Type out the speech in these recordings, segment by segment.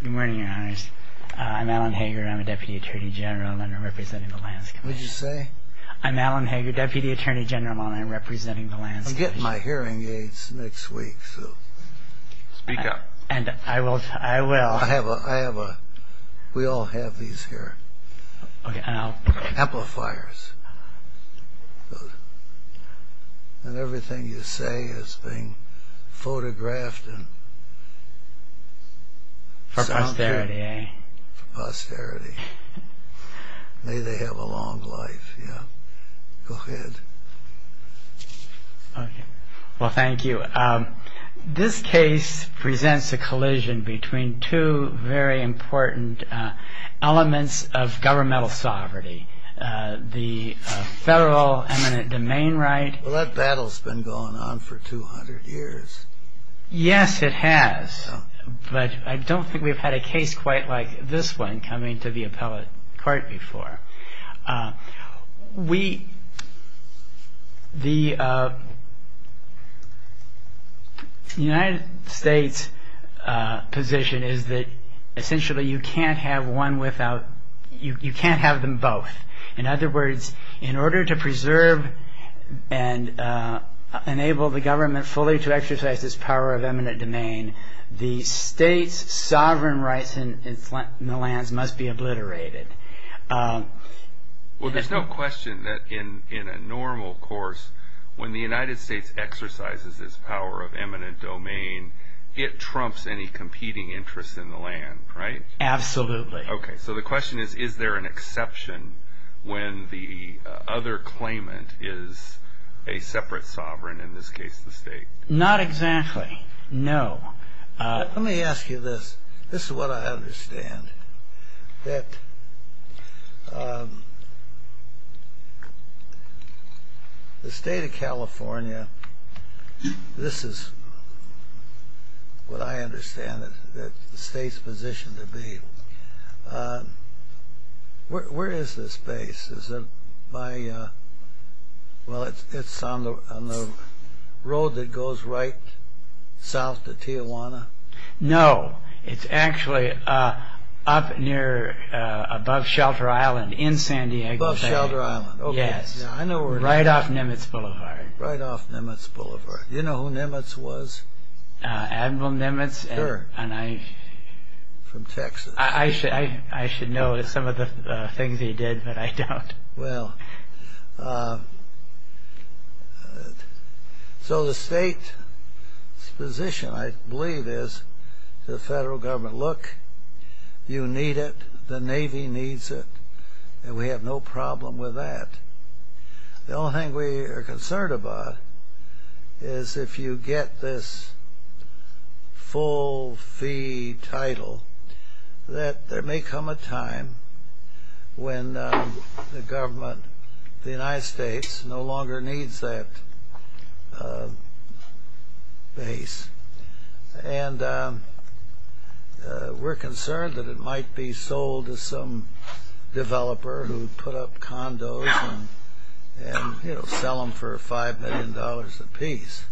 Good morning, your honors. I'm Alan Hager. I'm a Deputy Attorney General and I'm representing the Lands Commission. What did you say? I'm Alan Hager, Deputy Attorney General, and I'm representing the Lands Commission. I'm getting my hearing aids next week, so... Speak up. And I will... I will... I have a... I have a... We all have these here. Okay, and I'll... Amplifiers. And everything you say is being photographed and... For posterity, eh? For posterity. May they have a long life, yeah. Go ahead. Okay. Well, thank you. This case presents a collision between two very important elements of governmental sovereignty. The federal eminent domain right... Well, that battle's been going on for 200 years. Yes, it has. But I don't think we've had a case quite like this one coming to the appellate court before. We... The United States' position is that essentially you can't have one without... You can't have them both. In other words, in order to preserve and enable the government fully to exercise this power of eminent domain, the state's sovereign rights in the lands must be obliterated. Well, there's no question that in a normal course, when the United States exercises this power of eminent domain, it trumps any competing interests in the land, right? Absolutely. Okay. So the question is, is there an exception when the other claimant is a separate sovereign, in this case the state? Not exactly, no. Let me ask you this. This is what I understand, that the state of California, this is what I understand the state's position to be. Where is this base? Is it by... Well, it's on the road that goes right south to Tijuana? No, it's actually up near above Shelter Island in San Diego City. Above Shelter Island. Yes. Right off Nimitz Boulevard. Right off Nimitz Boulevard. Do you know who Nimitz was? Admiral Nimitz. Sure. And I... From Texas. I should know some of the things he did, but I don't. Well, so the state's position, I believe, is to the federal government, look, you need it, the Navy needs it, and we have no problem with that. The only thing we are concerned about is if you get this full fee title, that there may come a time when the government of the United States no longer needs that base. And we're concerned that it might be sold to some developer who put up condos and, you know, sell them for $5 million apiece.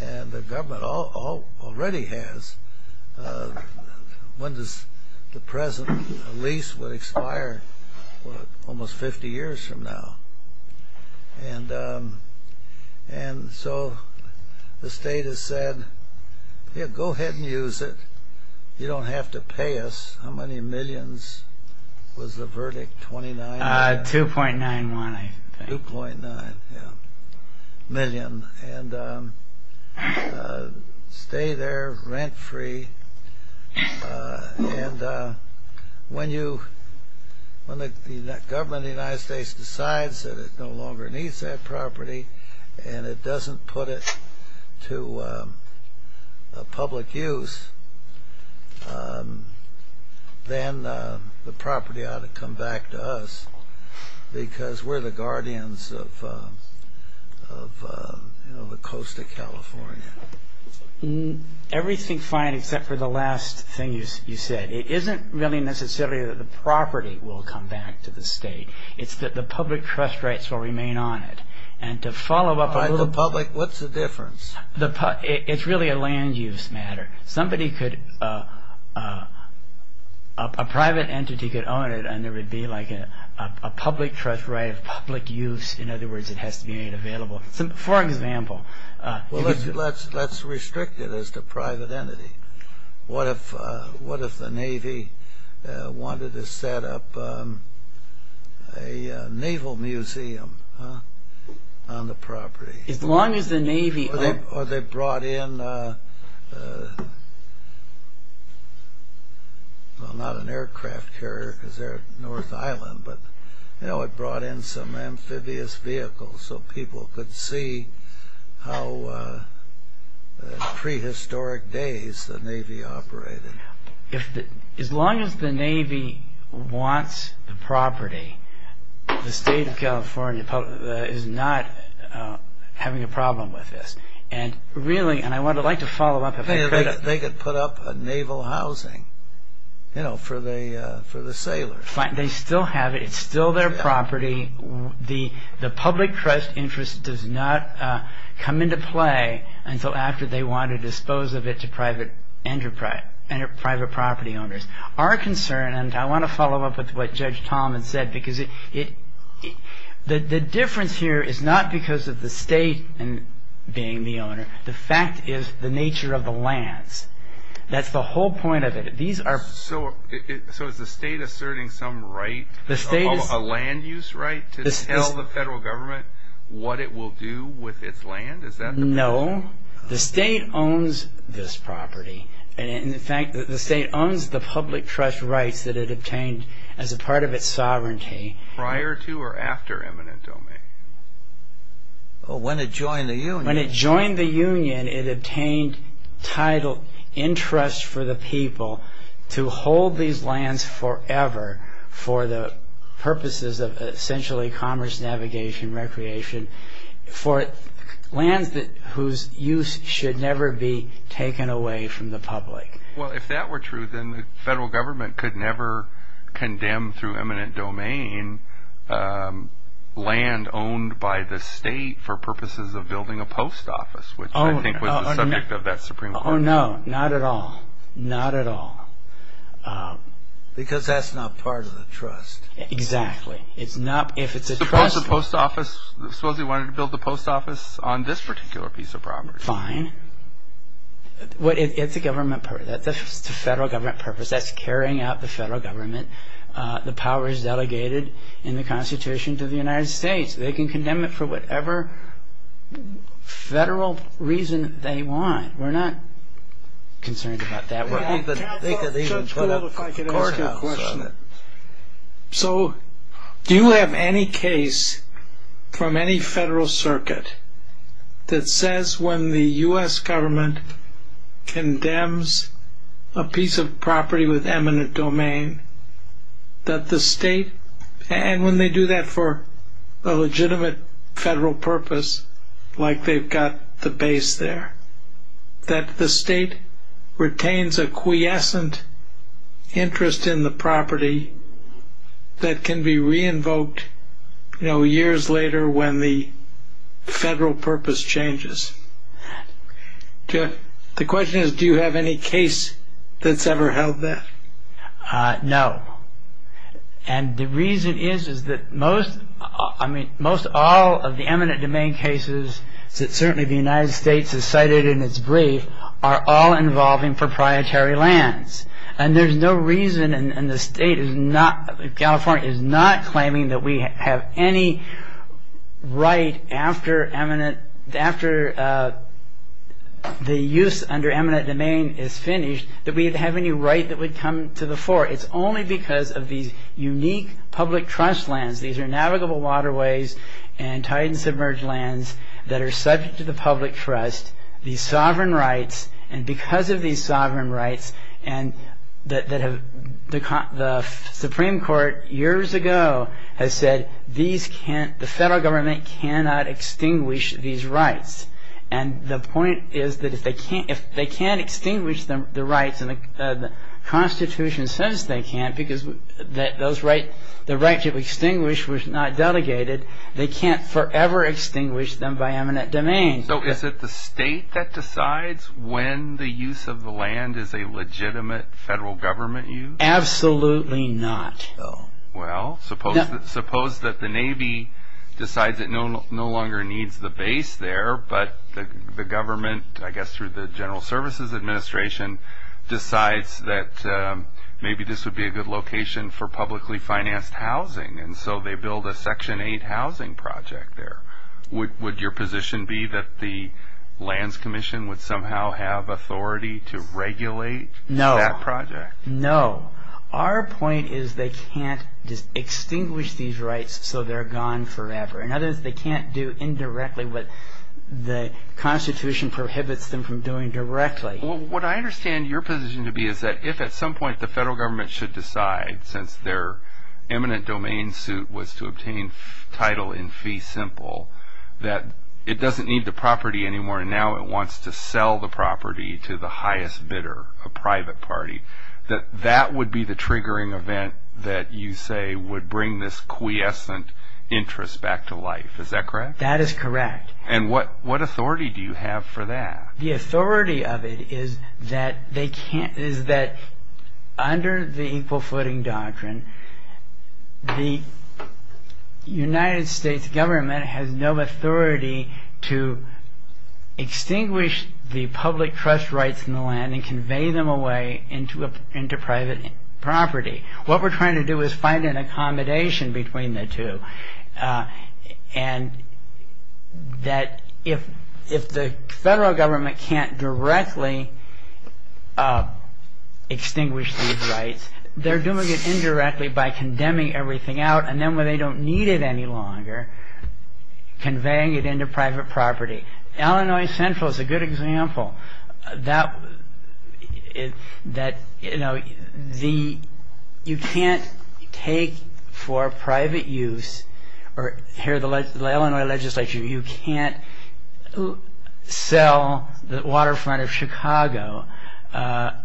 And the government already has. When does the present lease would expire? Almost 50 years from now. And so the state has said, yeah, go ahead and use it. You don't have to pay us. How many millions was the verdict? 29? 2.91, I think. 2.9, yeah. A million. And stay there rent-free. And when the government of the United States decides that it no longer needs that property and it doesn't put it to public use, then the property ought to come back to us because we're the guardians of the coast of California. Everything's fine except for the last thing you said. It isn't really necessarily that the property will come back to the state. It's that the public trust rights will remain on it. And to follow up a little bit. By the public, what's the difference? It's really a land use matter. Somebody could, a private entity could own it and there would be like a public trust right of public use. In other words, it has to be made available. For example. Well, let's restrict it as the private entity. What if the Navy wanted to set up a naval museum on the property? As long as the Navy... Or they brought in, well, not an aircraft carrier because they're North Island, but it brought in some amphibious vehicles so people could see how prehistoric days the Navy operated. As long as the Navy wants the property, the state of California is not having a problem with this. And really, and I would like to follow up. They could put up a naval housing for the sailors. They still have it. It's still their property. The public trust interest does not come into play until after they want to dispose of it to private property owners. Our concern, and I want to follow up with what Judge Tolman said, because the difference here is not because of the state being the owner. The fact is the nature of the lands. That's the whole point of it. So is the state asserting some right, a land use right, to tell the federal government what it will do with its land? Is that the problem? No. The state owns this property. And in fact, the state owns the public trust rights that it obtained as a part of its sovereignty. Prior to or after eminent domain? When it joined the union. It obtained title interest for the people to hold these lands forever for the purposes of essentially commerce, navigation, recreation, for lands whose use should never be taken away from the public. Well, if that were true, then the federal government could never condemn through eminent domain land owned by the state for purposes of building a post office, which I think was the subject of that Supreme Court hearing. Oh, no, not at all. Not at all. Because that's not part of the trust. Exactly. It's not. If it's a trust. Suppose a post office, suppose they wanted to build a post office on this particular piece of property. Fine. It's a federal government purpose. That's carrying out the federal government, the powers delegated in the Constitution to the United States. They can condemn it for whatever federal reason they want. We're not concerned about that. Judge, if I could ask you a question. So do you have any case from any federal circuit that says when the U.S. government condemns a piece of property with eminent domain that the state, and when they do that for a legitimate federal purpose, like they've got the base there, that the state retains a quiescent interest in the property that can be re-invoked years later when the federal purpose changes? The question is do you have any case that's ever held that? No. And the reason is that most, I mean, most all of the eminent domain cases that certainly the United States has cited in its brief are all involving proprietary lands. And there's no reason, and the state is not, California is not claiming that we have any right after eminent, after the use under eminent domain is finished, that we have any right that would come to the fore. It's only because of these unique public trust lands. These are navigable waterways and tide and submerge lands that are subject to the public trust. These sovereign rights, and because of these sovereign rights, and the Supreme Court years ago has said the federal government cannot extinguish these rights. And the point is that if they can't extinguish the rights, and the Constitution says they can't, because the right to extinguish was not delegated, they can't forever extinguish them by eminent domain. So is it the state that decides when the use of the land is a legitimate federal government use? Absolutely not. Well, suppose that the Navy decides it no longer needs the base there, but the government, I guess through the General Services Administration, decides that maybe this would be a good location for publicly financed housing, and so they build a Section 8 housing project there. Would your position be that the Lands Commission would somehow have authority to regulate that project? No. Our point is they can't just extinguish these rights so they're gone forever. In other words, they can't do indirectly what the Constitution prohibits them from doing directly. What I understand your position to be is that if at some point the federal government should decide, since their eminent domain suit was to obtain title in fee simple, that it doesn't need the property anymore, and now it wants to sell the property to the highest bidder, a private party, that that would be the triggering event that you say would bring this quiescent interest back to life. Is that correct? That is correct. And what authority do you have for that? The authority of it is that under the equal footing doctrine, the United States government has no authority to extinguish the public trust rights in the land and convey them away into private property. What we're trying to do is find an accommodation between the two, and that if the federal government can't directly extinguish these rights, they're doing it indirectly by condemning everything out, and then when they don't need it any longer, conveying it into private property. Illinois Central is a good example. You can't take for private use, or here the Illinois legislature, you can't sell the waterfront of Chicago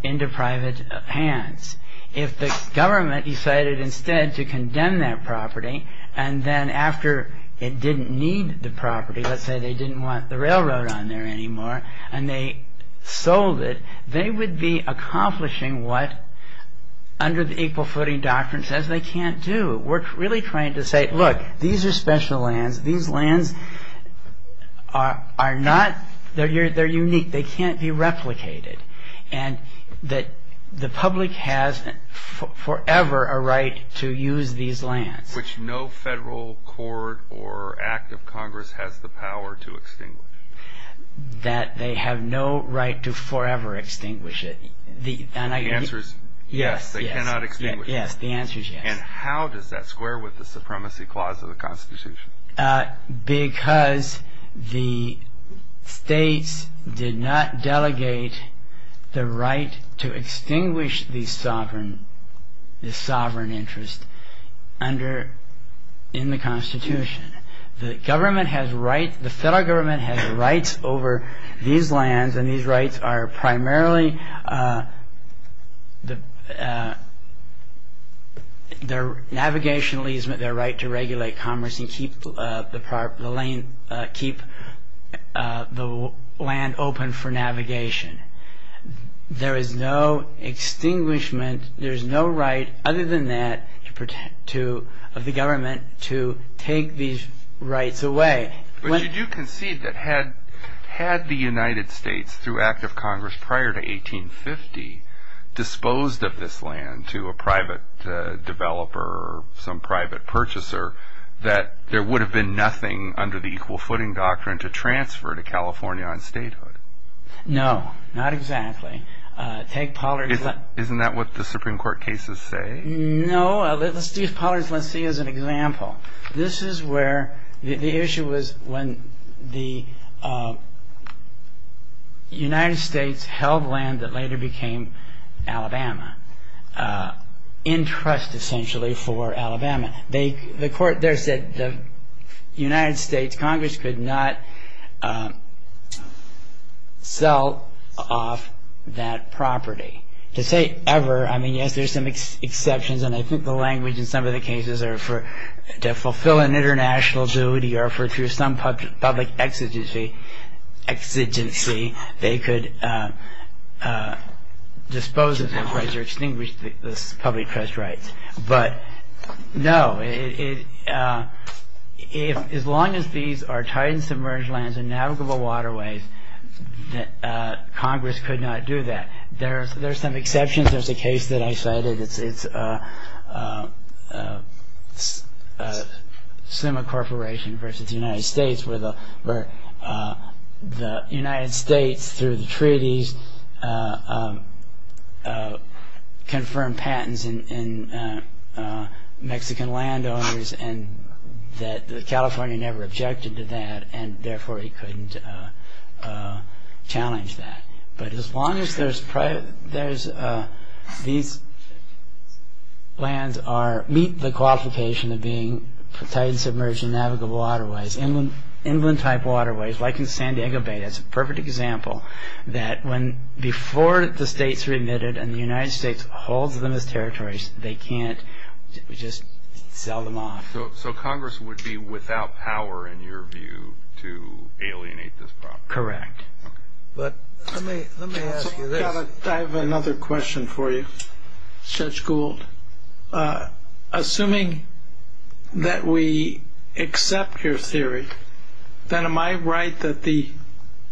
into private hands. If the government decided instead to condemn that property, and then after it didn't need the property, let's say they didn't want the railroad on there anymore, and they sold it, they would be accomplishing what under the equal footing doctrine says they can't do. We're really trying to say, look, these are special lands. These lands are unique. They can't be replicated. And the public has forever a right to use these lands. Which no federal court or act of Congress has the power to extinguish. That they have no right to forever extinguish it. The answer is yes, they cannot extinguish it. Yes, the answer is yes. And how does that square with the supremacy clause of the Constitution? Because the states did not delegate the right to extinguish the sovereign interest in the Constitution. The federal government has rights over these lands, and these rights are primarily their navigational easement, their right to regulate commerce and keep the land open for navigation. There is no extinguishment. There is no right other than that of the government to take these rights away. But you do concede that had the United States, through act of Congress prior to 1850, disposed of this land to a private developer or some private purchaser, that there would have been nothing under the equal footing doctrine to transfer to California on statehood. No, not exactly. Isn't that what the Supreme Court cases say? No, let's see as an example. This is where the issue was when the United States held land that later became Alabama, in trust essentially for Alabama. The court there said the United States Congress could not sell off that property. To say ever, I mean, yes, there's some exceptions, and I think the language in some of the cases are to fulfill an international duty or through some public exigency they could dispose of their rights or extinguish this public trust rights. But no, as long as these are tight and submerged lands and navigable waterways, Congress could not do that. There are some exceptions. There's a case that I cited. It's SEMA Corporation versus the United States where the United States through the treaties confirmed patents in Mexican landowners and that California never objected to that and therefore it couldn't challenge that. But as long as these lands meet the qualification of being tight and submerged and navigable waterways, inland type waterways like in San Diego Bay, that's a perfect example that before the states are admitted and the United States holds them as territories, they can't just sell them off. So Congress would be without power in your view to alienate this property? Correct. But let me ask you this. I have another question for you, Judge Gould. Assuming that we accept your theory, then am I right that the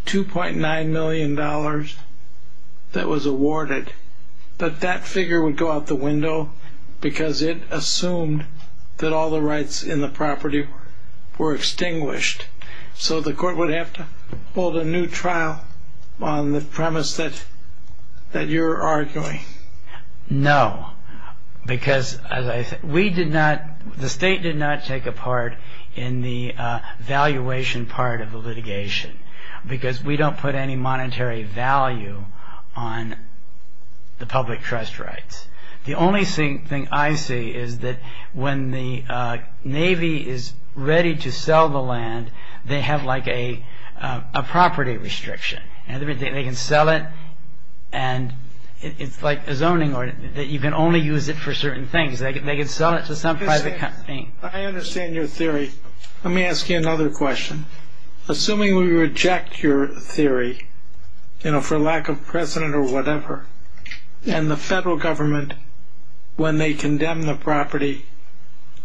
$2.9 million that was awarded, that that figure would go out the window because it assumed that all the rights in the property were extinguished. So the court would have to hold a new trial on the premise that you're arguing? No, because the state did not take a part in the valuation part of the litigation because we don't put any monetary value on the public trust rights. The only thing I see is that when the Navy is ready to sell the land, they have like a property restriction and they can sell it and it's like a zoning order that you can only use it for certain things. They can sell it to some private company. I understand your theory. Let me ask you another question. Assuming we reject your theory for lack of precedent or whatever and the federal government, when they condemn the property,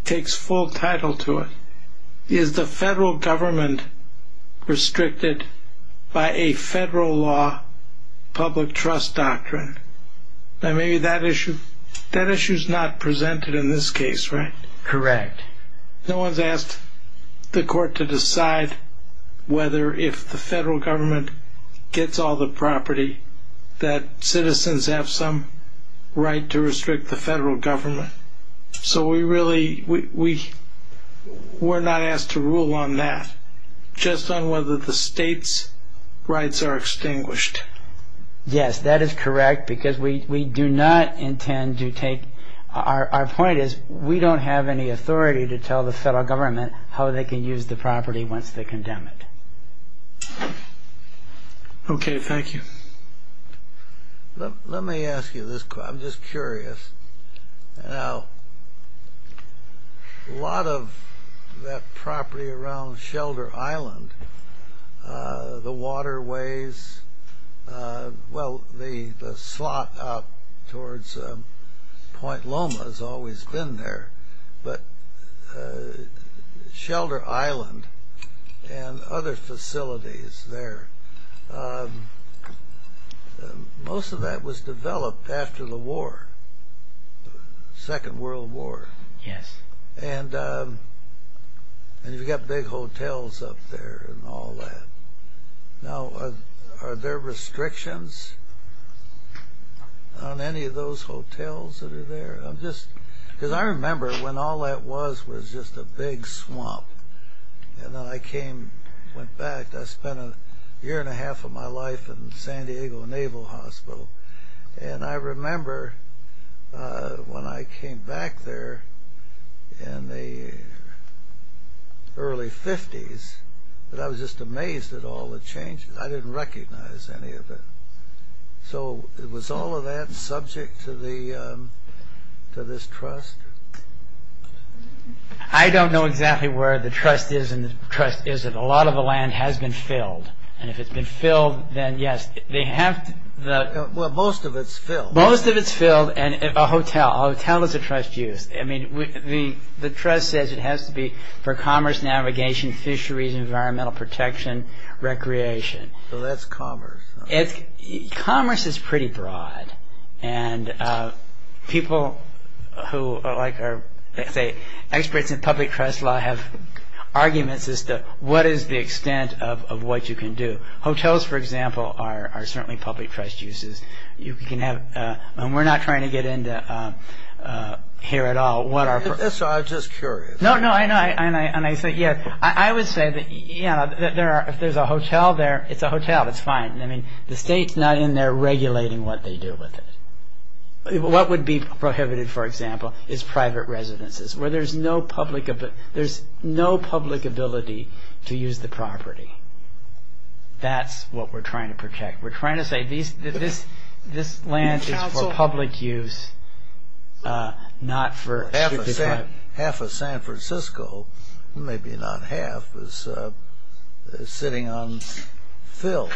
takes full title to it, is the federal government restricted by a federal law public trust doctrine? Now maybe that issue is not presented in this case, right? Correct. No one's asked the court to decide whether if the federal government gets all the property that citizens have some right to restrict the federal government. So we're not asked to rule on that, just on whether the state's rights are extinguished. Yes, that is correct because we do not intend to take – our point is we don't have any authority to tell the federal government how they can use the property once they condemn it. Okay, thank you. Let me ask you this. I'm just curious. Now a lot of that property around Shelter Island, the waterways, well the slot up towards Point Loma has always been there, but Shelter Island and other facilities there, most of that was developed after the war, the Second World War. Yes. And you've got big hotels up there and all that. Now are there restrictions on any of those hotels that are there? Because I remember when all that was was just a big swamp, and then I went back. I spent a year and a half of my life in San Diego Naval Hospital, and I remember when I came back there in the early 50s that I was just amazed at all the changes. I didn't recognize any of it. So was all of that subject to this trust? I don't know exactly where the trust is and the trust isn't. A lot of the land has been filled, and if it's been filled, then yes. Well, most of it's filled. Most of it's filled, and a hotel. A hotel is a trust used. The trust says it has to be for commerce, navigation, fisheries, environmental protection, recreation. So that's commerce. Commerce is pretty broad, and people who are experts in public trust law have arguments as to what is the extent of what you can do. Hotels, for example, are certainly public trust uses. We're not trying to get into here at all. I'm just curious. I would say that if there's a hotel there, it's a hotel. It's fine. The state's not in there regulating what they do with it. What would be prohibited, for example, is private residences where there's no public ability to use the property. That's what we're trying to protect. We're trying to say this land is for public use, not for... Half of San Francisco, maybe not half, is sitting on fill.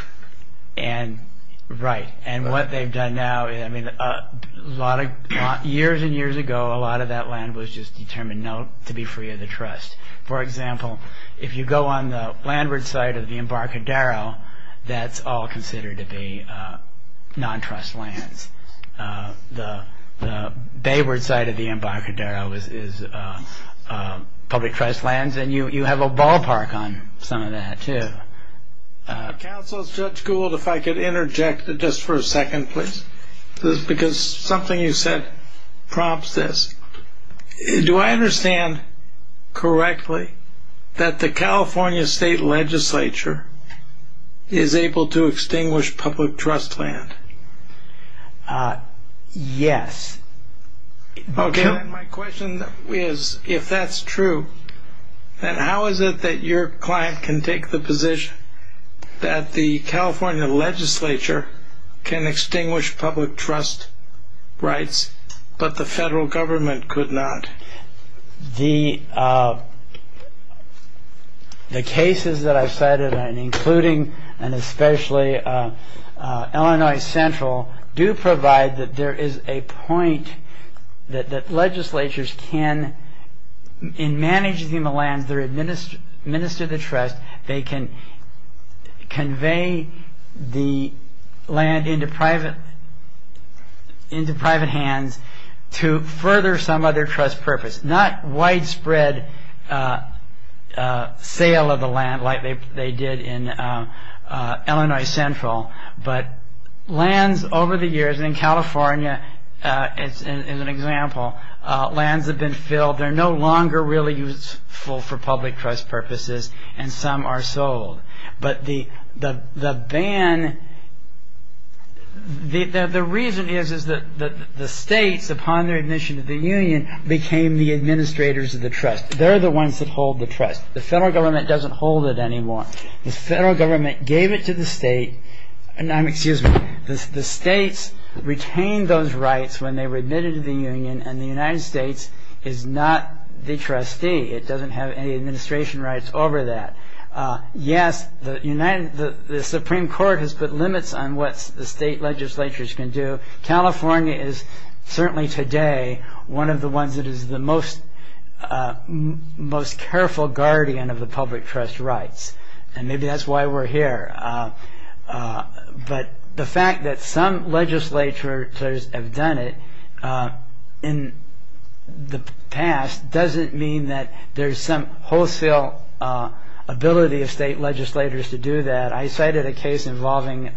Right. And what they've done now, years and years ago, a lot of that land was just determined to be free of the trust. For example, if you go on the landward side of the Embarcadero, that's all considered to be non-trust lands. The bayward side of the Embarcadero is public trust lands, and you have a ballpark on some of that, too. Counsel, Judge Gould, if I could interject just for a second, please, because something you said prompts this. Do I understand correctly that the California State Legislature is able to extinguish public trust land? Yes. Okay, then my question is, if that's true, then how is it that your client can take the position that the California Legislature can extinguish public trust rights, but the federal government could not? The cases that I've cited, including and especially Illinois Central, do provide that there is a point that legislatures can, in managing the lands, they administer the trust, they can convey the land into private hands to further some other trust purpose. Not widespread sale of the land like they did in Illinois Central, but lands over the years, and in California, as an example, lands have been filled, they're no longer really useful for public trust purposes, and some are sold. But the reason is that the states, upon their admission to the union, became the administrators of the trust. They're the ones that hold the trust. The federal government doesn't hold it anymore. The federal government gave it to the state, and the states retained those rights when they were admitted to the union, and the United States is not the trustee. It doesn't have any administration rights over that. Yes, the Supreme Court has put limits on what the state legislatures can do. California is, certainly today, one of the ones that is the most careful guardian of the public trust rights, and maybe that's why we're here. But the fact that some legislatures have done it in the past doesn't mean that there's some wholesale ability of state legislators to do that. I cited a case involving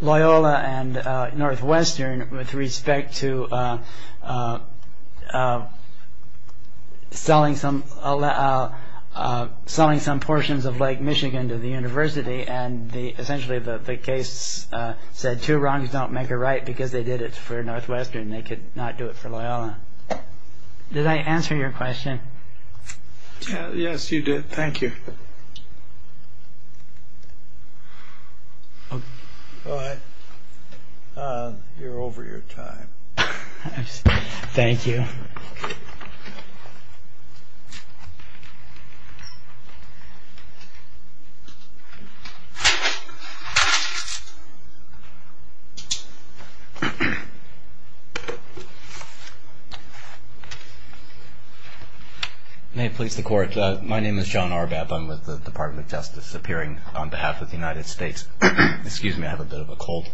Loyola and Northwestern with respect to selling some portions of Lake Michigan to the university, and essentially the case said two wrongs don't make a right because they did it for Northwestern, they could not do it for Loyola. Did I answer your question? Yes, you did. Thank you. Go ahead. You're over your time. Thank you. May it please the Court. My name is John Arbab. I'm with the Department of Justice, appearing on behalf of the United States. Excuse me, I have a bit of a cold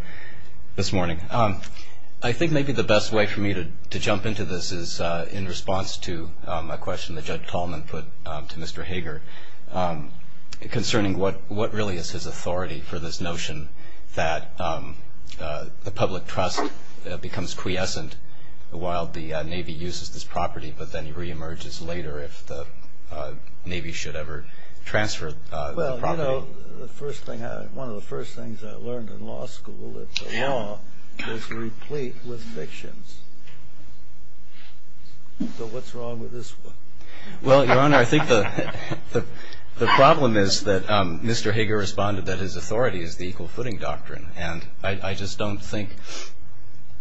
this morning. I think maybe the best way for me to jump into this is in response to a question that Judge Tallman put to Mr. Hager concerning what really is his authority for this notion that the public trust becomes quiescent while the Navy uses this property but then reemerges later if the Navy should ever transfer the property. Well, you know, one of the first things I learned in law school is that the law is replete with fictions. So what's wrong with this one? Well, Your Honor, I think the problem is that Mr. Hager responded that his authority is the equal footing doctrine, and I just don't think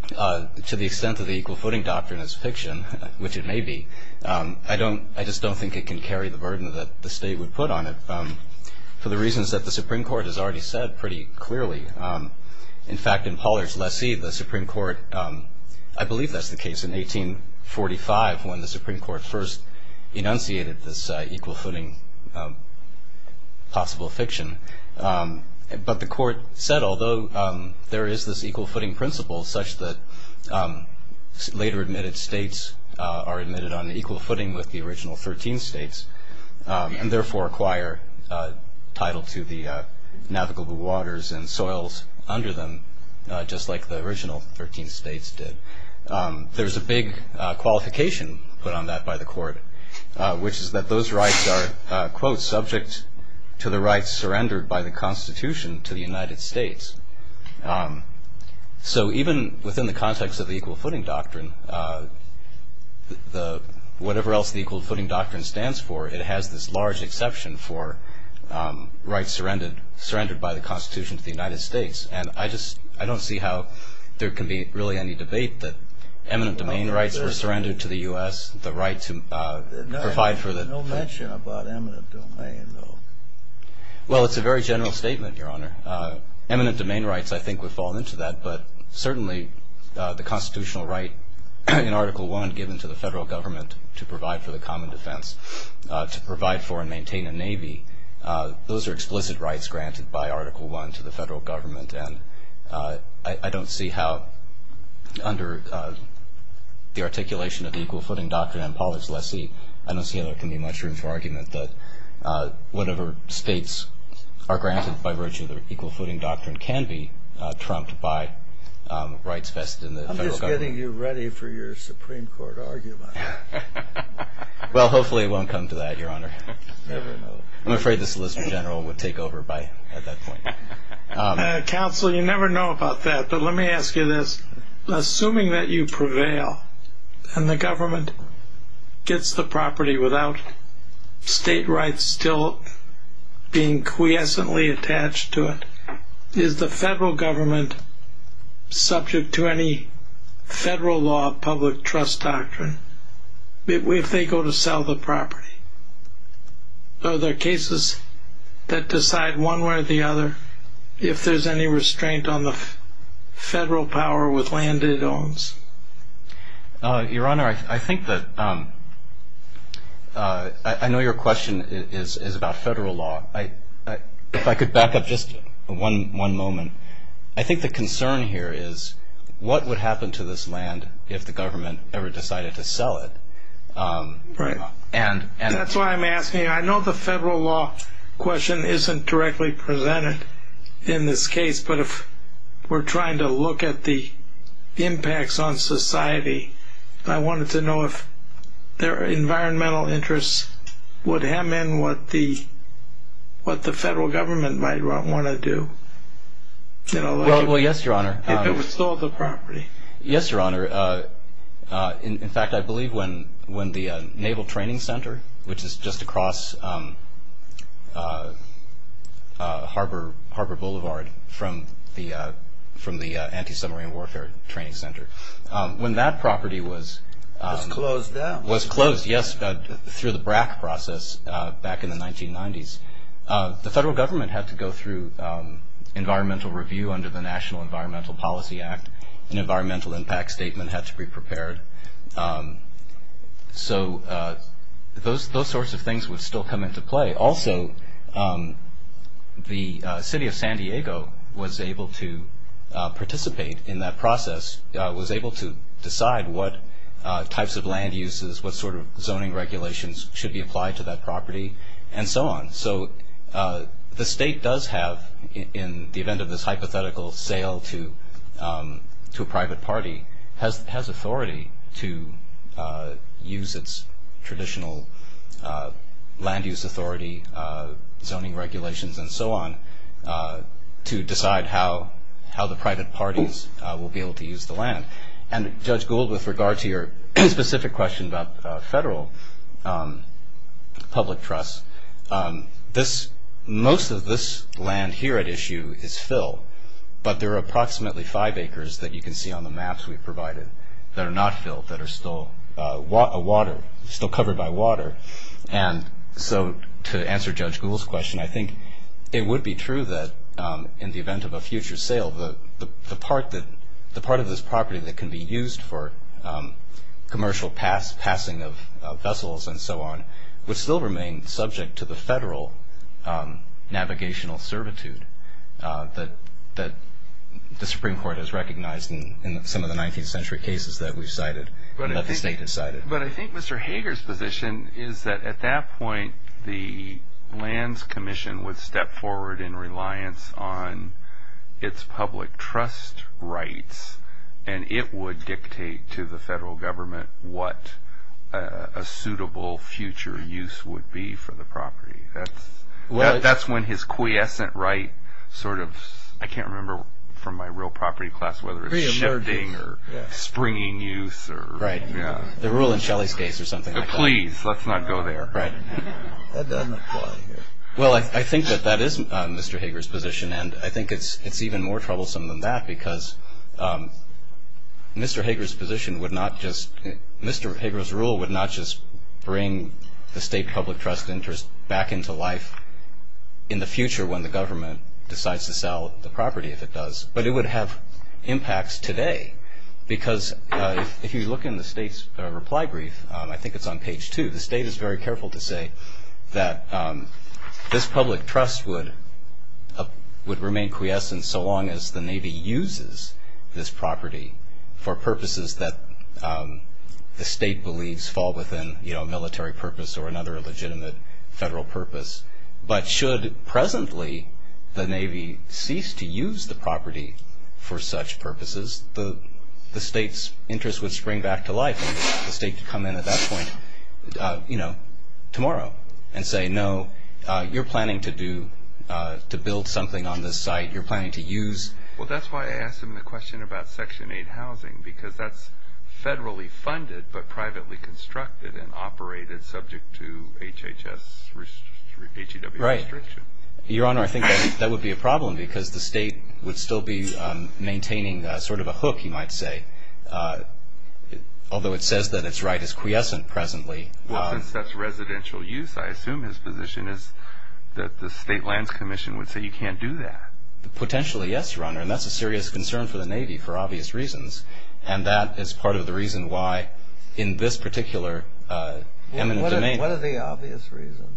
to the extent that the equal footing doctrine is fiction, which it may be, I just don't think it can carry the burden that the State would put on it for the reasons that the Supreme Court has already said pretty clearly. In fact, in Pollard's lessee, the Supreme Court, I believe that's the case, in 1845, when the Supreme Court first enunciated this equal footing possible fiction. But the Court said, although there is this equal footing principle, such that later admitted states are admitted on equal footing with the original 13 states and therefore acquire title to the navigable waters and soils under them, just like the original 13 states did, there's a big qualification put on that by the Court, which is that those rights are, quote, subject to the rights surrendered by the Constitution to the United States. So even within the context of the equal footing doctrine, whatever else the equal footing doctrine stands for, it has this large exception for rights surrendered by the Constitution to the United States. And I don't see how there can be really any debate that eminent domain rights were surrendered to the U.S., the right to provide for the- No mention about eminent domain, though. Well, it's a very general statement, Your Honor. Eminent domain rights, I think, would fall into that. But certainly the constitutional right in Article I given to the federal government to provide for the common defense, to provide for and maintain a navy, those are explicit rights granted by Article I to the federal government. And I don't see how, under the articulation of the equal footing doctrine in Pollard's lessee, I don't see how there can be much room for argument that whatever states are granted by virtue of the equal footing doctrine can be trumped by rights vested in the federal government. I'm just getting you ready for your Supreme Court argument. Well, hopefully it won't come to that, Your Honor. I'm afraid the Solicitor General would take over at that point. Counsel, you never know about that, but let me ask you this. Assuming that you prevail and the government gets the property without state rights still being quiescently attached to it, is the federal government subject to any federal law of public trust doctrine if they go to sell the property? Are there cases that decide one way or the other if there's any restraint on the federal power with land it owns? Your Honor, I know your question is about federal law. If I could back up just one moment. I think the concern here is what would happen to this land if the government ever decided to sell it? Right. That's why I'm asking. I know the federal law question isn't directly presented in this case, but if we're trying to look at the impacts on society, I wanted to know if their environmental interests would hem in what the federal government might want to do. Well, yes, Your Honor. If it was sold the property. Yes, Your Honor. In fact, I believe when the Naval Training Center, which is just across Harbor Boulevard from the Anti-Submarine Warfare Training Center, when that property was closed through the BRAC process back in the 1990s, the federal government had to go through environmental review under the National Environmental Policy Act, an environmental impact statement had to be prepared. So those sorts of things would still come into play. Also, the city of San Diego was able to participate in that process, was able to decide what types of land uses, what sort of zoning regulations should be applied to that property, and so on. So the state does have, in the event of this hypothetical sale to a private party, has authority to use its traditional land use authority, zoning regulations, and so on, to decide how the private parties will be able to use the land. And Judge Gould, with regard to your specific question about federal public trust, most of this land here at issue is fill, but there are approximately five acres that you can see on the maps we provided that are not fill, that are still water, still covered by water. And so to answer Judge Gould's question, I think it would be true that in the event of a future sale, the part of this property that can be used for commercial passing of vessels, and so on, would still remain subject to the federal navigational servitude that the Supreme Court has recognized in some of the 19th century cases that we've cited, that the state has cited. But I think Mr. Hager's position is that at that point, the Lands Commission would step forward in reliance on its public trust rights, and it would dictate to the federal government what a suitable future use would be for the property. That's when his quiescent right sort of... I can't remember from my real property class whether it's shifting or springing use or... Please, let's not go there. That doesn't apply here. Well, I think that that is Mr. Hager's position, and I think it's even more troublesome than that because Mr. Hager's position would not just... Mr. Hager's rule would not just bring the state public trust interest back into life in the future when the government decides to sell the property if it does, but it would have impacts today because if you look in the state's reply brief, I think it's on page 2, the state is very careful to say that this public trust would remain quiescent so long as the Navy uses this property for purposes that the state believes fall within military purpose or another legitimate federal purpose. But should presently the Navy cease to use the property for such purposes, the state's interest would spring back to life and the state could come in at that point tomorrow and say, no, you're planning to build something on this site. You're planning to use... Well, that's why I asked him the question about Section 8 housing because that's federally funded but privately constructed and operated subject to HHS, HEW restriction. Right. Your Honor, I think that would be a problem because the state would still be maintaining sort of a hook, you might say, although it says that its right is quiescent presently. Well, since that's residential use, I assume his position is that the State Lands Commission would say you can't do that. Potentially, yes, Your Honor, and that's a serious concern for the Navy for obvious reasons, and that is part of the reason why in this particular eminent domain... What are the obvious reasons?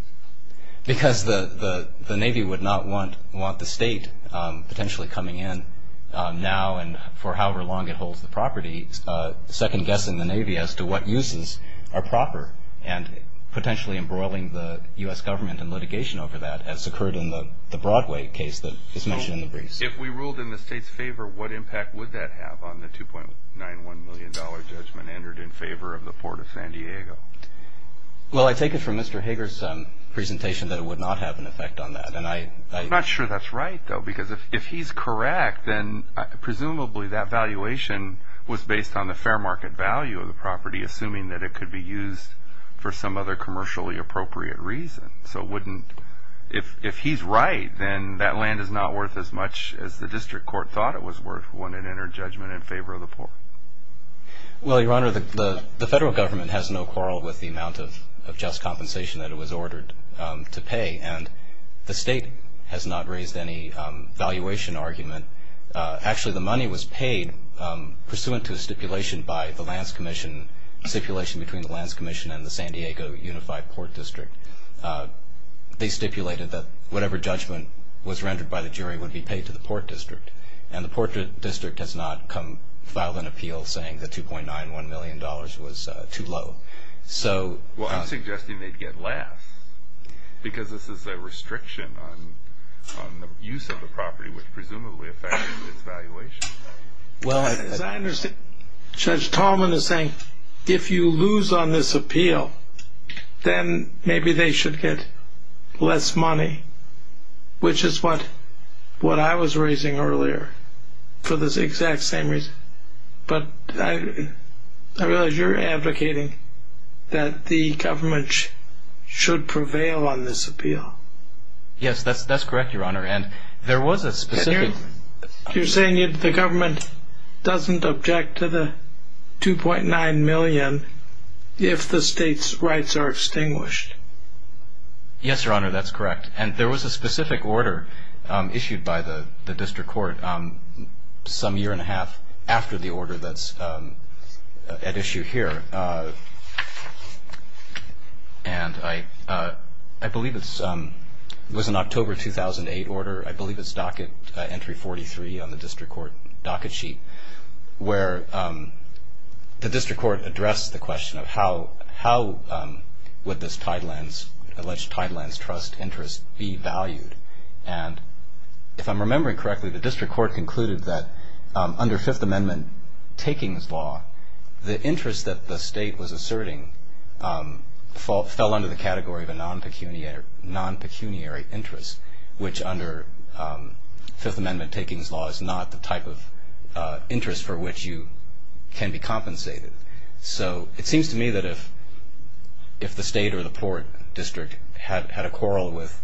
Because the Navy would not want the state potentially coming in now and for however long it holds the property, second-guessing the Navy as to what uses are proper and potentially embroiling the U.S. government in litigation over that as occurred in the Broadway case that is mentioned in the briefs. If we ruled in the state's favor, what impact would that have on the $2.91 million judgment entered in favor of the Port of San Diego? Well, I take it from Mr. Hager's presentation that it would not have an effect on that. I'm not sure that's right, though, because if he's correct, then presumably that valuation was based on the fair market value of the property, assuming that it could be used for some other commercially appropriate reason. So if he's right, then that land is not worth as much as the district court thought it was worth when it entered judgment in favor of the Port. Well, Your Honor, the federal government has no quarrel with the amount of just compensation that it was ordered to pay, and the state has not raised any valuation argument. Actually, the money was paid pursuant to a stipulation by the Lands Commission, a stipulation between the Lands Commission and the San Diego Unified Port District. They stipulated that whatever judgment was rendered by the jury would be paid to the Port District, and the Port District has not filed an appeal saying that $2.91 million was too low. Well, I'm suggesting they'd get less, because this is a restriction on the use of the property, which presumably affects its valuation. Well, as I understand, Judge Tallman is saying, if you lose on this appeal, then maybe they should get less money, which is what I was raising earlier for this exact same reason. But I realize you're advocating that the government should prevail on this appeal. Yes, that's correct, Your Honor, and there was a specific... You're saying that the government doesn't object to the $2.9 million if the state's rights are extinguished. Yes, Your Honor, that's correct, and there was a specific order issued by the District Court some year and a half after the order that's at issue here, and I believe it was an October 2008 order. I believe it's docket entry 43 on the District Court docket sheet, where the District Court addressed the question of how would this alleged Tidelands trust interest be valued, and if I'm remembering correctly, the District Court concluded that under Fifth Amendment takings law, the interest that the state was asserting fell under the category of a non-pecuniary interest, which under Fifth Amendment takings law is not the type of interest for which you can be compensated. So it seems to me that if the state or the port district had a quarrel with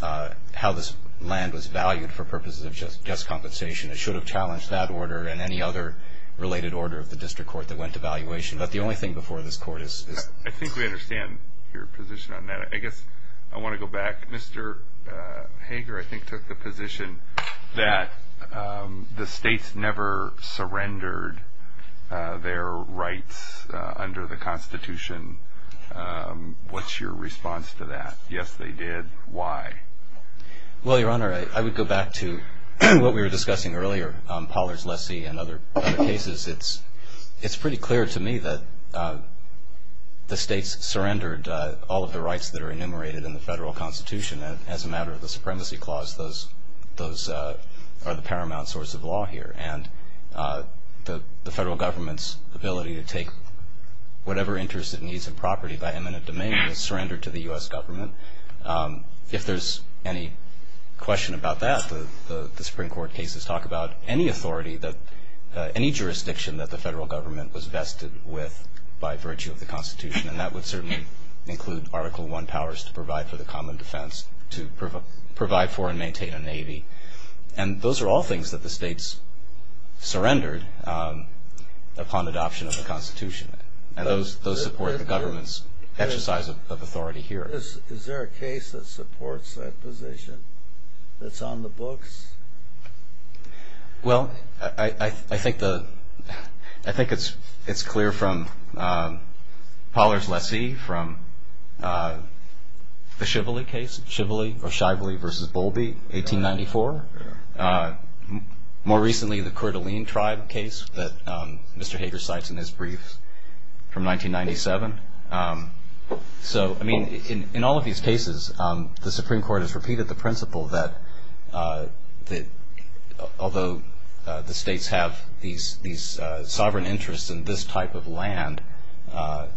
how this land was valued for purposes of just compensation, it should have challenged that order and any other related order of the District Court that went to valuation. But the only thing before this court is... I think we understand your position on that. I guess I want to go back. Mr. Hager, I think, took the position that the states never surrendered their rights under the Constitution. What's your response to that? Yes, they did. Why? Well, Your Honor, I would go back to what we were discussing earlier, Pollard's lessee and other cases. It's pretty clear to me that the states surrendered all of the rights that are enumerated in the federal Constitution. And as a matter of the Supremacy Clause, those are the paramount source of law here. And the federal government's ability to take whatever interest it needs in property by eminent domain was surrendered to the U.S. government. If there's any question about that, the Supreme Court cases talk about any authority, any jurisdiction that the federal government was vested with by virtue of the Constitution. And that would certainly include Article I powers to provide for the common defense, to provide for and maintain a navy. And those are all things that the states surrendered upon adoption of the Constitution. And those support the government's exercise of authority here. Is there a case that supports that position, that's on the books? Well, I think it's clear from Pollard's lessee, from the Shively case, Shively v. Bowlby, 1894. More recently, the Coeur d'Alene tribe case that Mr. Hager cites in his brief from 1997. So, I mean, in all of these cases, the Supreme Court has repeated the principle that although the states have these sovereign interests in this type of land,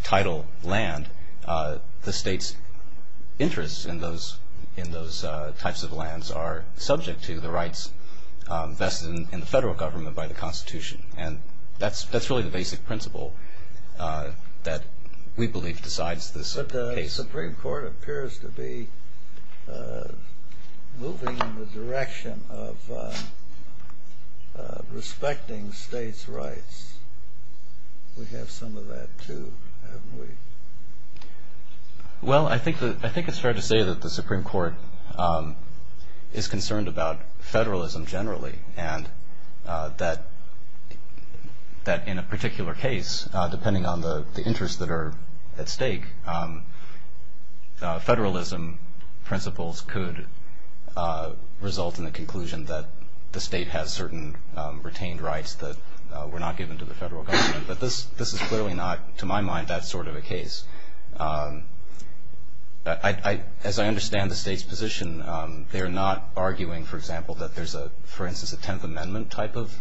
title land, the states' interests in those types of lands are subject to the rights vested in the federal government by the Constitution. And that's really the basic principle that we believe decides this case. But the Supreme Court appears to be moving in the direction of respecting states' rights. We have some of that, too, haven't we? Well, I think it's fair to say that the Supreme Court is concerned about federalism generally and that in a particular case, depending on the interests that are at stake, federalism principles could result in the conclusion that the state has certain retained rights that were not given to the federal government. But this is clearly not, to my mind, that sort of a case. As I understand the state's position, they are not arguing, for example, that there's a, for instance, a Tenth Amendment type of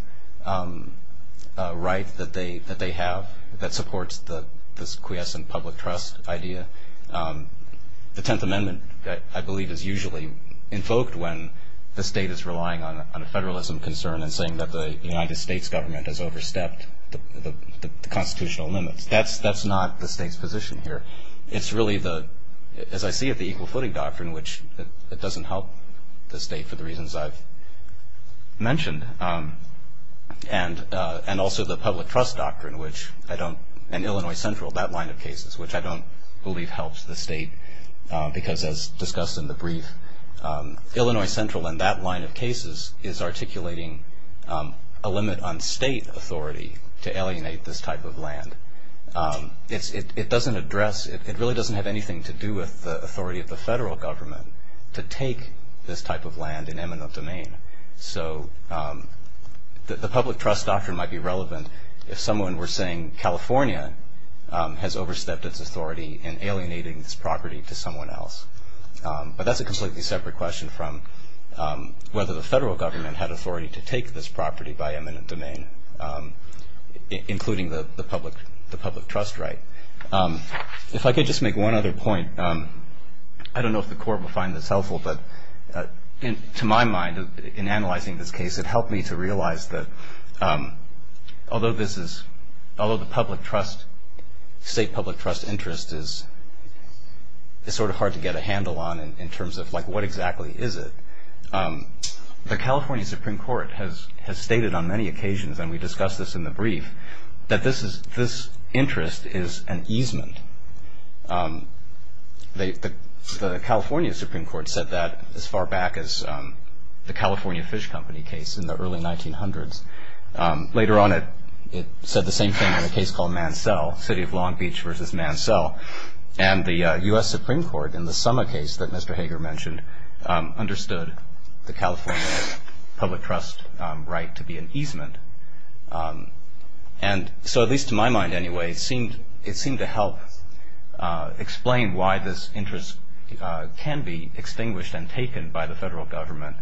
right that they have that supports this quiescent public trust idea. The Tenth Amendment, I believe, is usually invoked when the state is relying on a federalism concern and saying that the United States government has overstepped the constitutional limits. That's not the state's position here. It's really, as I see it, the Equal Footing Doctrine, which doesn't help the state for the reasons I've mentioned, and also the Public Trust Doctrine and Illinois Central, that line of cases, which I don't believe helps the state because, as discussed in the brief, Illinois Central in that line of cases is articulating a limit on state authority to alienate this type of land. It doesn't address, it really doesn't have anything to do with the authority of the federal government to take this type of land in eminent domain. So the Public Trust Doctrine might be relevant if someone were saying, California has overstepped its authority in alienating this property to someone else. But that's a completely separate question from whether the federal government had authority to take this property by eminent domain, including the public trust right. If I could just make one other point, I don't know if the Court will find this helpful, but to my mind, in analyzing this case, it helped me to realize that although this is, although the public trust, state public trust interest is sort of hard to get a handle on in terms of what exactly is it. The California Supreme Court has stated on many occasions, and we discussed this in the brief, that this interest is an easement. The California Supreme Court said that as far back as the California Fish Company case in the early 1900s. Later on, it said the same thing in a case called Mansell, City of Long Beach versus Mansell. And the U.S. Supreme Court, in the Summer case that Mr. Hager mentioned, understood the California public trust right to be an easement. And so at least to my mind anyway, it seemed to help explain why this interest can be extinguished and taken by the federal government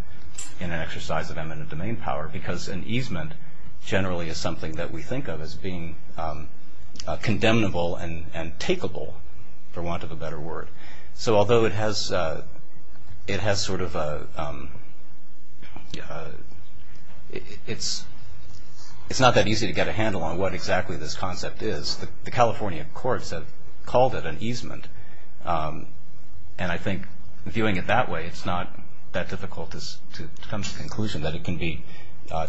in an exercise of eminent domain power. Because an easement generally is something that we think of as being condemnable and takeable, for want of a better word. So although it has sort of a, it's not that easy to get a handle on what exactly this concept is. The California courts have called it an easement. And I think viewing it that way, it's not that difficult to come to the conclusion that it can be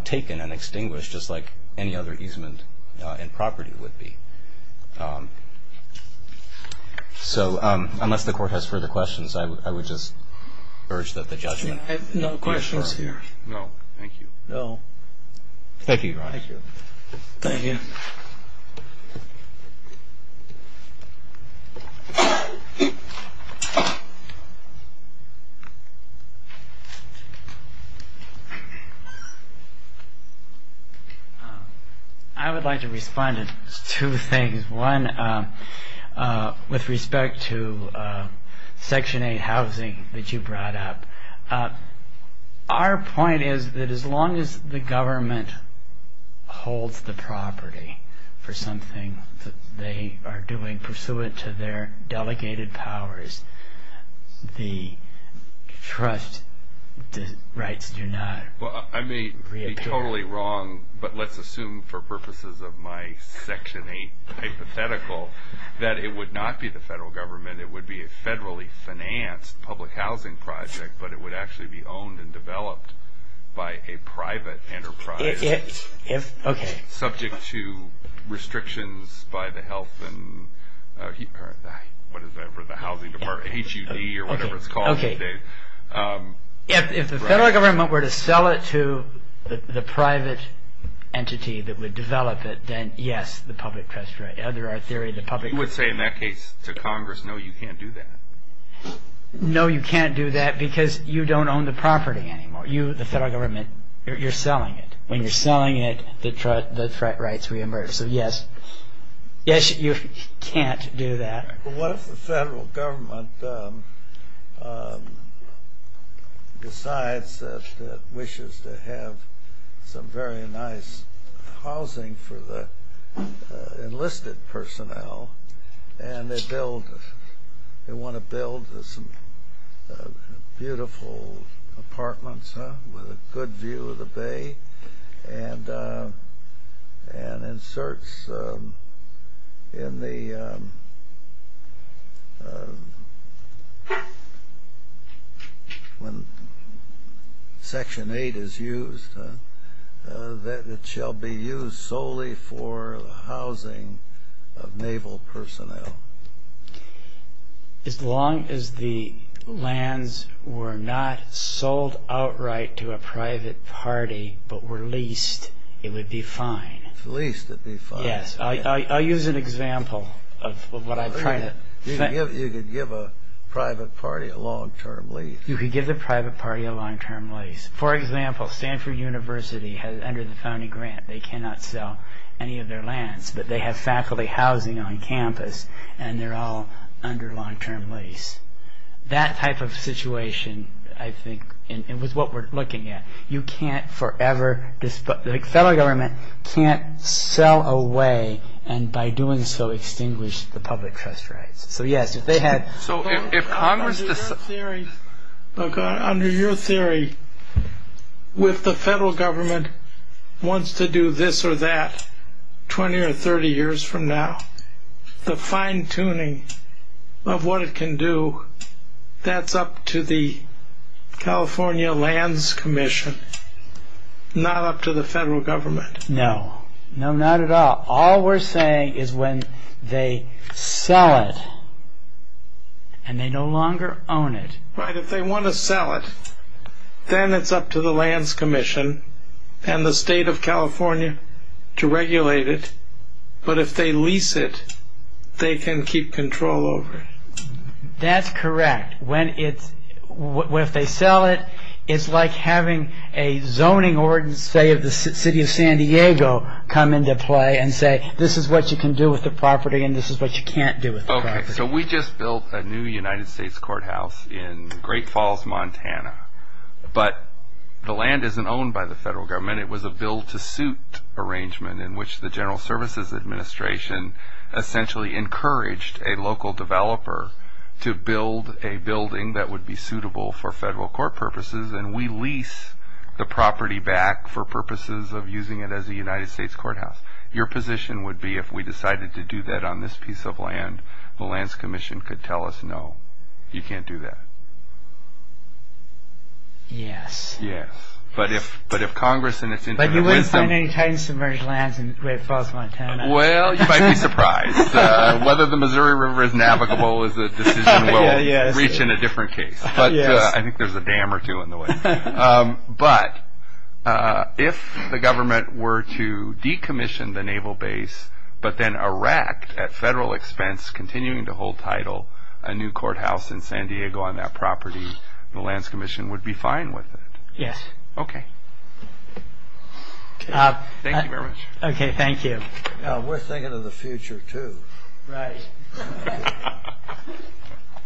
taken and extinguished just like any other easement in property would be. So unless the court has further questions, I would just urge that the judgment be assured. I have no questions here. No, thank you. No. Thank you, Your Honor. Thank you. Thank you. Thank you. I would like to respond to two things. One, with respect to Section 8 housing that you brought up. Our point is that as long as the government holds the property for something that they are doing pursuant to their delegated powers, the trust rights do not reappear. Well, I may be totally wrong, but let's assume for purposes of my Section 8 hypothetical that it would not be the federal government. It would be a federally financed public housing project, but it would actually be owned and developed by a private enterprise. Okay. Subject to restrictions by the health and what is that? The housing department, HUD or whatever it's called. Okay. If the federal government were to sell it to the private entity that would develop it, then yes, the public trust right, under our theory, the public trust right. You would say in that case to Congress, no, you can't do that. No, you can't do that because you don't own the property anymore. You, the federal government, you're selling it. When you're selling it, the threat rights reemerge. So, yes, you can't do that. Well, what if the federal government decides that it wishes to have some very nice housing for the enlisted personnel and they want to build some beautiful apartments with a good view of the bay and inserts in the, when Section 8 is used, that it shall be used solely for housing of naval personnel? As long as the lands were not sold outright to a private party but were leased, it would be fine. If it's leased, it'd be fine. Yes. I'll use an example of what I'm trying to... You could give a private party a long-term lease. You could give the private party a long-term lease. For example, Stanford University has, under the founding grant, they cannot sell any of their lands, but they have faculty housing on campus and they're all under long-term lease. That type of situation, I think, and with what we're looking at, you can't forever, the federal government can't sell away and by doing so extinguish the public trust rights. So, yes, if they had... So, if Congress... Under your theory, if the federal government wants to do this or that 20 or 30 years from now, the fine-tuning of what it can do, that's up to the California Lands Commission, not up to the federal government. No. No, not at all. All we're saying is when they sell it and they no longer own it... Right. If they want to sell it, then it's up to the Lands Commission and the state of California to regulate it, but if they lease it, they can keep control over it. That's correct. If they sell it, it's like having a zoning ordinance, say, of the city of San Diego come into play and say this is what you can do with the property and this is what you can't do with the property. Okay, so we just built a new United States courthouse in Great Falls, Montana, but the land isn't owned by the federal government. It was a build-to-suit arrangement in which the General Services Administration essentially encouraged a local developer to build a building that would be suitable for federal court purposes, and we lease the property back for purposes of using it as a United States courthouse. Your position would be if we decided to do that on this piece of land, the Lands Commission could tell us, no, you can't do that. Yes. Yes, but if Congress and its internal wisdom... But you wouldn't find any tightly submerged lands in Great Falls, Montana. Well, you might be surprised. Whether the Missouri River is navigable is a decision we'll reach in a different case, but I think there's a dam or two in the way. But if the government were to decommission the naval base but then erect at federal expense, continuing to hold title, a new courthouse in San Diego on that property, the Lands Commission would be fine with it. Yes. Okay. Thank you very much. Okay, thank you. We're thinking of the future, too. Right.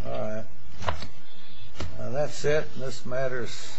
All right. That's it. This matters.